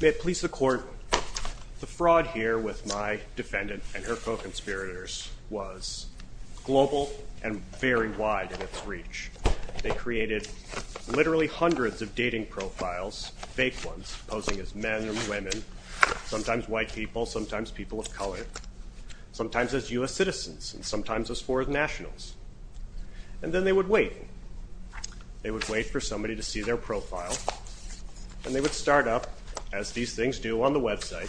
May it please the court, the fraud here with my defendant and her co-conspirators was global and very wide in its reach. They created literally hundreds of dating profiles, fake ones, posing as men and women, sometimes white people, sometimes people of color, sometimes as US citizens, and sometimes as foreign nationals. And then they would wait. They would wait for somebody to see their profile, as these things do on the website,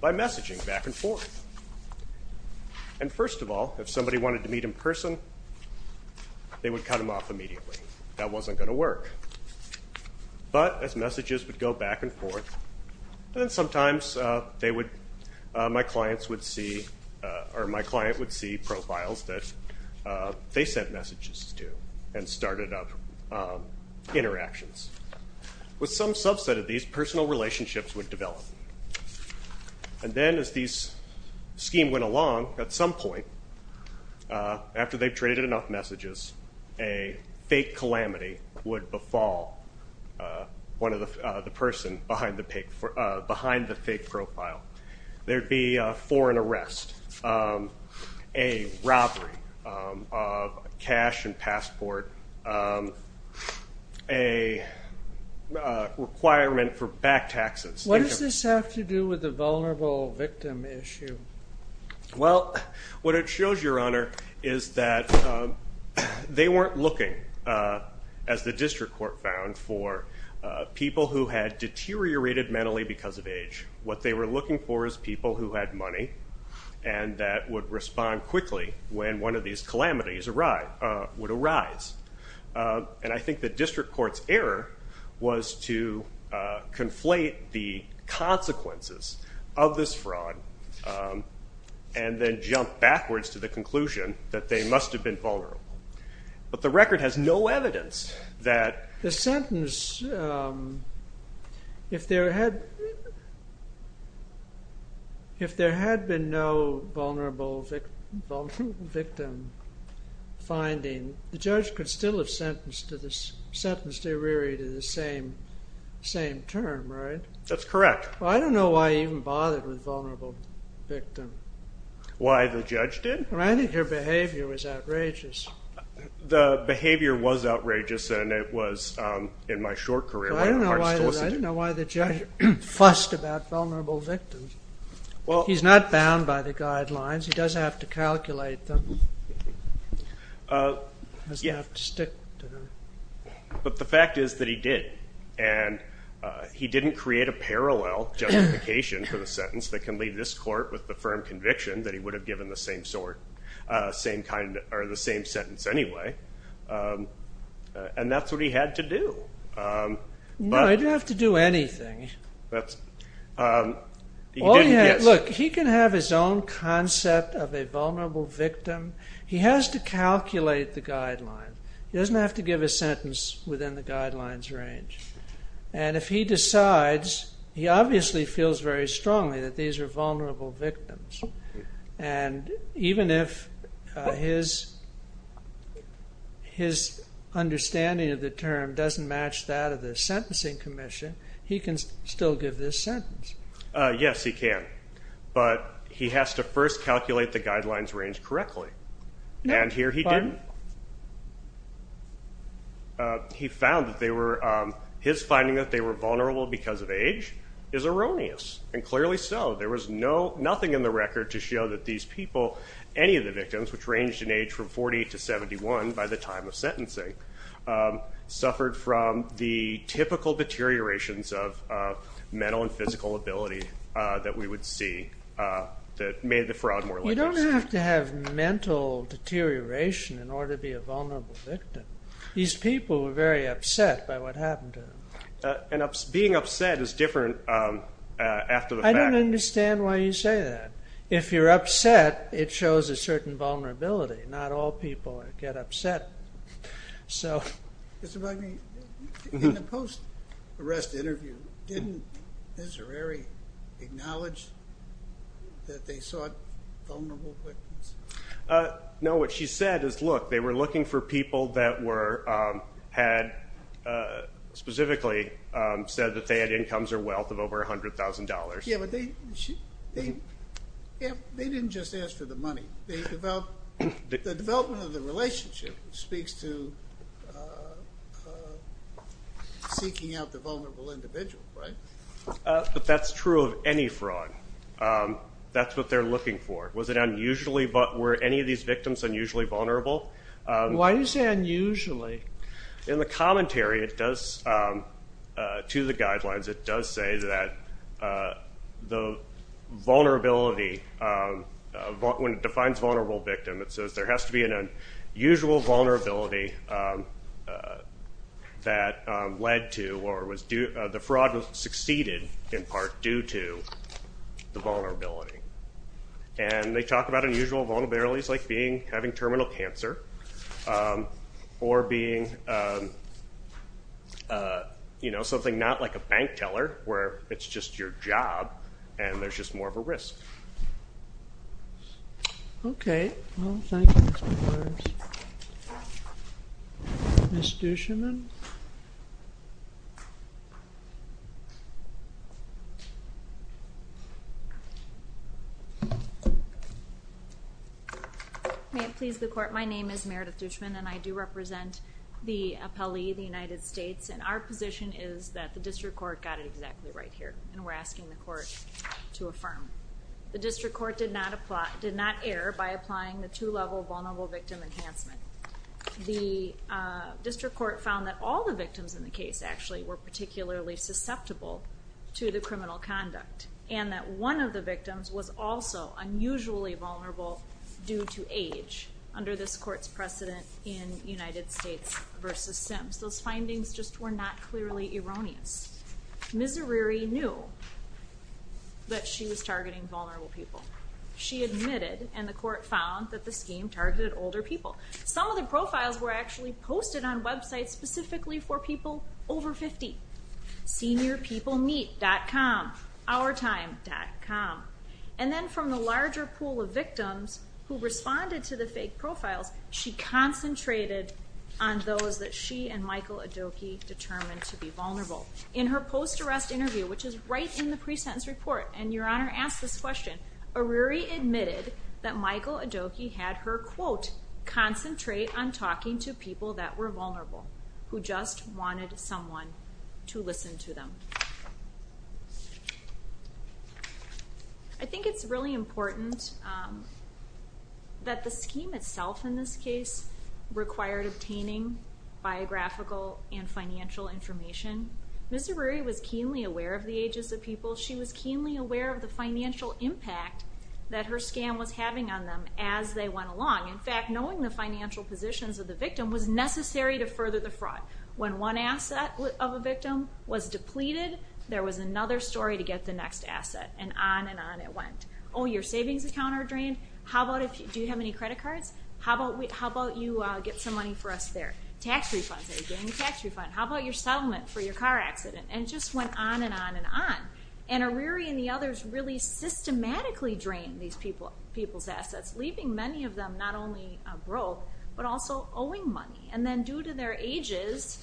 by messaging back and forth. And first of all, if somebody wanted to meet in person, they would cut them off immediately. That wasn't going to work. But as messages would go back and forth, and sometimes they would, my clients would see, or my client would see profiles that they sent messages to and started up interactions. With some subset of these, personal relationships would develop. And then as these schemes went along, at some point, after they've traded enough messages, a fake calamity would befall one of the person behind the fake profile. There'd be a foreign arrest, a cash and passport, a requirement for back taxes. What does this have to do with the vulnerable victim issue? Well, what it shows, Your Honor, is that they weren't looking, as the district court found, for people who had deteriorated mentally because of age. What they were looking for is people who had money and that would respond quickly when one of these calamities would arise. And I think the district court's error was to conflate the consequences of this fraud and then jump backwards to the conclusion that they must have been vulnerable. But the victim finding, the judge could still have sentenced to this, sentenced Iriri to the same term, right? That's correct. Well, I don't know why he even bothered with vulnerable victim. Why the judge did? I think your behavior was outrageous. The behavior was outrageous and it was, in my short career, I don't know why the judge fussed about vulnerable victims. He's not bound by the guidelines. He doesn't have to calculate them. He doesn't have to stick to them. But the fact is that he did and he didn't create a parallel justification for the sentence that can leave this court with the firm conviction that he would have given the same sentence anyway. And that's what he had to do. No, he didn't have to do anything. Look, he can have his own concept of a vulnerable victim. He has to calculate the guideline. He doesn't have to give a sentence within the guidelines range. And if he decides, he obviously feels very strongly that these are vulnerable victims. And even if his understanding of the term doesn't match that of the Sentencing Commission, he can still give this sentence. Yes, he can. But he has to first calculate the guidelines range correctly. And here he did. He found that they were, his finding that they were vulnerable because of age is erroneous. And clearly so. There was no nothing in the record to show that these people, any of the victims, which ranged in age from 40 to 71 by the time of the typical deteriorations of mental and physical ability that we would see that made the fraud more likely. You don't have to have mental deterioration in order to be a vulnerable victim. These people were very upset by what happened to them. And being upset is different after the fact. I don't understand why you say that. If you're upset, it shows a In the post-arrest interview, didn't Desiree acknowledge that they sought vulnerable victims? No, what she said is, look, they were looking for people that were, had specifically said that they had incomes or wealth of over $100,000. Yeah, but they didn't just ask for the money. The development of the relationship speaks to seeking out the vulnerable individual, right? But that's true of any fraud. That's what they're looking for. Was it unusually, but were any of these victims unusually vulnerable? Why do you say unusually? In the commentary, it does, to the vulnerable victim. It says there has to be an unusual vulnerability that led to or was due, the fraud was succeeded in part due to the vulnerability. And they talk about unusual vulnerabilities like being, having terminal cancer or being, you know, something not like a bank teller where it's just your job and there's just more of a risk. Okay, well, thank you, Mr. Morris. Ms. Dushman? May it please the court, my name is Meredith Dushman and I do represent the appellee, the United States. And our position is that the district court got it exactly right here. And we're asking the court to affirm. The district court did not apply, did not err by applying the two-level vulnerable victim enhancement. The district court found that all the victims in the case actually were particularly susceptible to the criminal conduct. And that one of the victims was also unusually vulnerable due to age under this court's precedent in United States v. Sims. Those findings just were not clearly erroneous. Ms. Arreary knew that she was targeting vulnerable people. She admitted, and the court found, that the scheme targeted older people. Some of the profiles were actually posted on websites specifically for people over 50. SeniorPeopleMeet.com, OurTime.com. And then from the larger pool of victims who responded to the fake profiles, she concentrated on those that she and Michael Adoki determined to be vulnerable. In her post-arrest interview, which is right in the pre-sentence report, and Your Honor asked this question, Arreary admitted that Michael Adoki had her, quote, concentrate on talking to people that were vulnerable, who just wanted someone to listen to them. I think it's really important that the scheme itself in this case required obtaining biographical and financial information. Ms. Arreary was keenly aware of the ages of people. She was keenly aware of the financial impact that her scam was having on them as they went along. In fact, knowing the financial positions of the victim was necessary to further the fraud. When one asset of a victim was depleted, there was another story to get the next asset. And on and on it went. Oh, your savings account are drained? Do you have any credit cards? How about you get some money for us there? Tax refunds? Are you getting a tax refund? How about your settlement for your car accident? And it just went on and on and on. And Arreary and the others really systematically drained these people's assets, leaving many of them not only broke, but also owing money. And then due to their ages,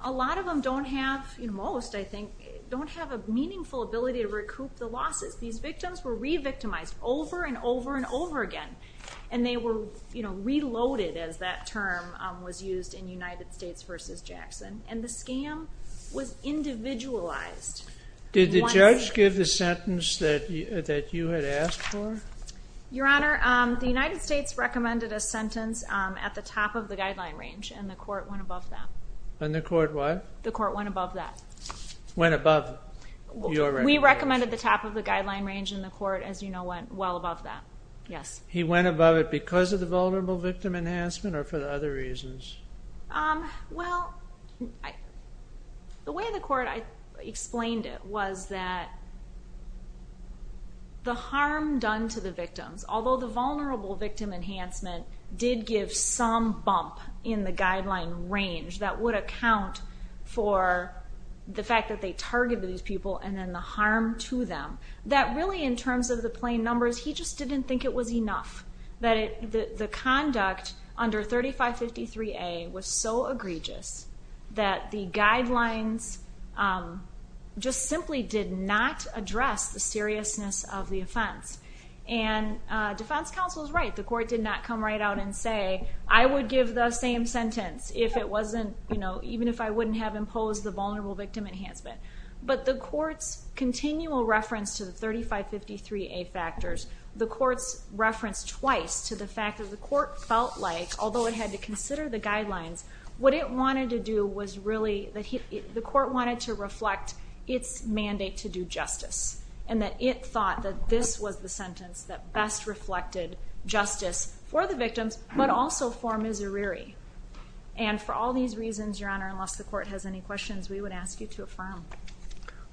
a lot of them don't have, most I think, don't have a meaningful ability to recoup the losses. These victims were re-victimized over and over and over again. And they were reloaded as that term was used in United States versus Jackson. And the scam was individualized. Did the judge give the sentence that you had asked for? Your Honor, the United States recommended a sentence at the top of the guideline range, and the court went above that. And the court what? The court went above that. Went above your recommendation? We recommended the top of the guideline range, and the court, as you know, went well above that. Yes. He went above it because of the vulnerable victim enhancement or for other reasons? Well, the way the court explained it was that the harm done to the victims, although the vulnerable victim enhancement did give some bump in the guideline range that would account for the fact that they targeted these people and then the harm to them, that really in terms of the plain numbers, he just didn't think it was enough. The conduct under 3553A was so egregious that the guidelines just simply did not address the seriousness of the offense. And defense counsel is right. The court did not come right out and say, I would give the same sentence even if I wouldn't have imposed the vulnerable victim enhancement. But the court's continual reference to the 3553A factors, the court's reference twice to the fact that the court felt like, although it had to consider the guidelines, what it wanted to do was really that the court wanted to reflect its mandate to do justice and that it thought that this was the sentence that best reflected justice for the victims but also for Miserere. And for all these reasons, Your Honor, unless the court has any questions, we would ask you to affirm.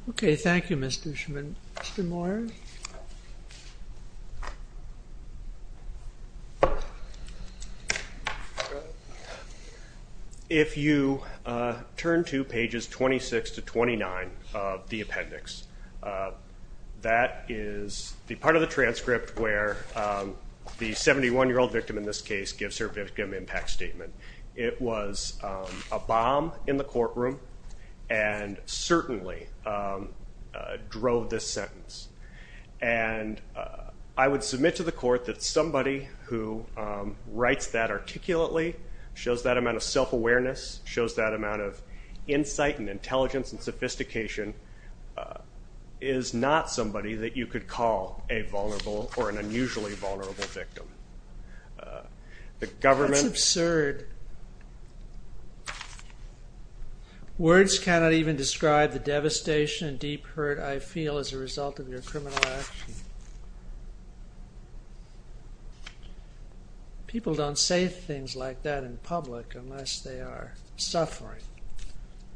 Okay. Thank you, Ms. Dushman. Mr. Moyer. If you turn to pages 26 to 29 of the appendix, that is the part of the transcript where the 71-year-old victim in this case gives her victim impact statement. It was a bomb in the courtroom and certainly drove this sentence. And I would submit to the court that somebody who writes that articulately, shows that amount of self-awareness, shows that amount of insight and intelligence and sophistication, is not somebody that you could call a vulnerable or an unusually vulnerable victim. That's absurd. Words cannot even describe the devastation and deep hurt I feel as a result of your criminal action. People don't say things like that in public unless they are suffering.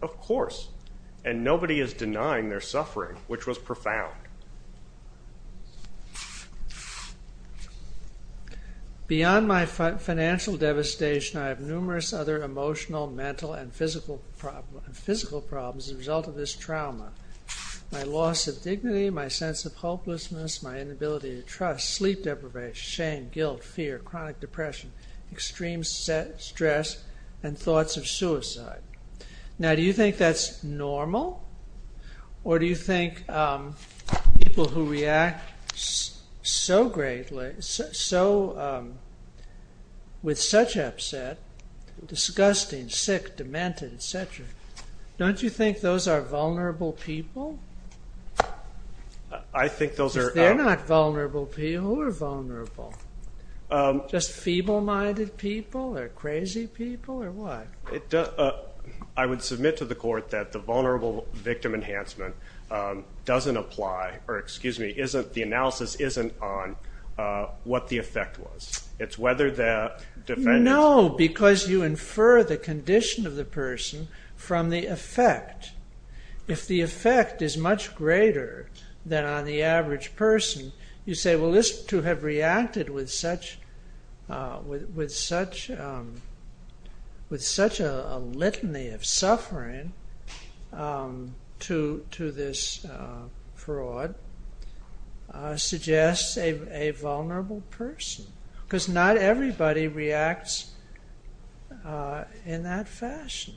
Of course. And nobody is denying their suffering, which was profound. Beyond my financial devastation, I have numerous other emotional, mental, and physical problems as a result of this trauma. My loss of dignity, my sense of hopelessness, my inability to trust, sleep deprivation, shame, guilt, fear, chronic depression, extreme stress, and thoughts of suicide. Now do you think that's normal? Or do you think people who react so greatly, with such upset, disgusting, sick, demented, etc. Don't you think those are vulnerable people? I think those are... Because they're not vulnerable people. Who are vulnerable? Just feeble-minded people, or crazy people, or what? I would submit to the court that the vulnerable victim enhancement doesn't apply, or excuse me, the analysis isn't on what the effect was. It's whether the defendant... No, because you infer the condition of the person from the effect. If the effect is much greater than on the average person, you say, well, to have reacted with such a litany of suffering to this fraud suggests a vulnerable person. Because not everybody reacts in that fashion.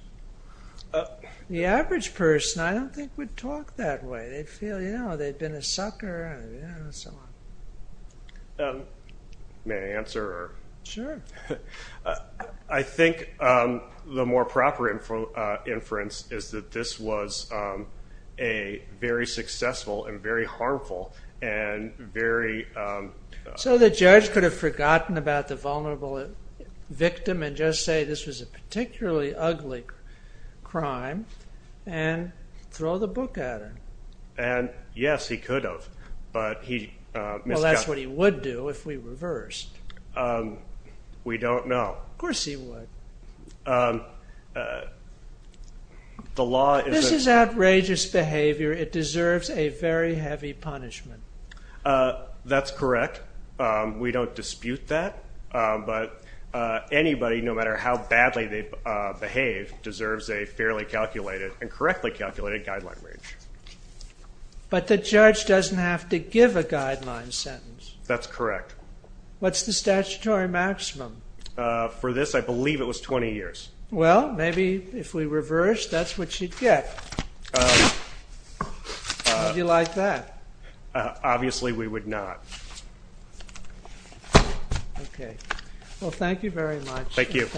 The average person, I don't think, would talk that way. They'd feel, you know, they've been a sucker, and so on. May I answer? Sure. I think the more proper inference is that this was a very successful and very harmful and very... So the judge could have forgotten about the vulnerable victim and just say this was a particularly ugly crime and throw the book at him. Yes, he could have, but he misjudged. Well, that's what he would do if we reversed. We don't know. Of course he would. This is outrageous behavior. It deserves a very heavy punishment. That's correct. We don't dispute that. But anybody, no matter how badly they behave, deserves a fairly calculated and correctly calculated guideline range. But the judge doesn't have to give a guideline sentence. That's correct. What's the statutory maximum? For this, I believe it was 20 years. Well, maybe if we reverse, that's what you'd get. Would you like that? Obviously we would not. Okay. Well, thank you very much. Thank you.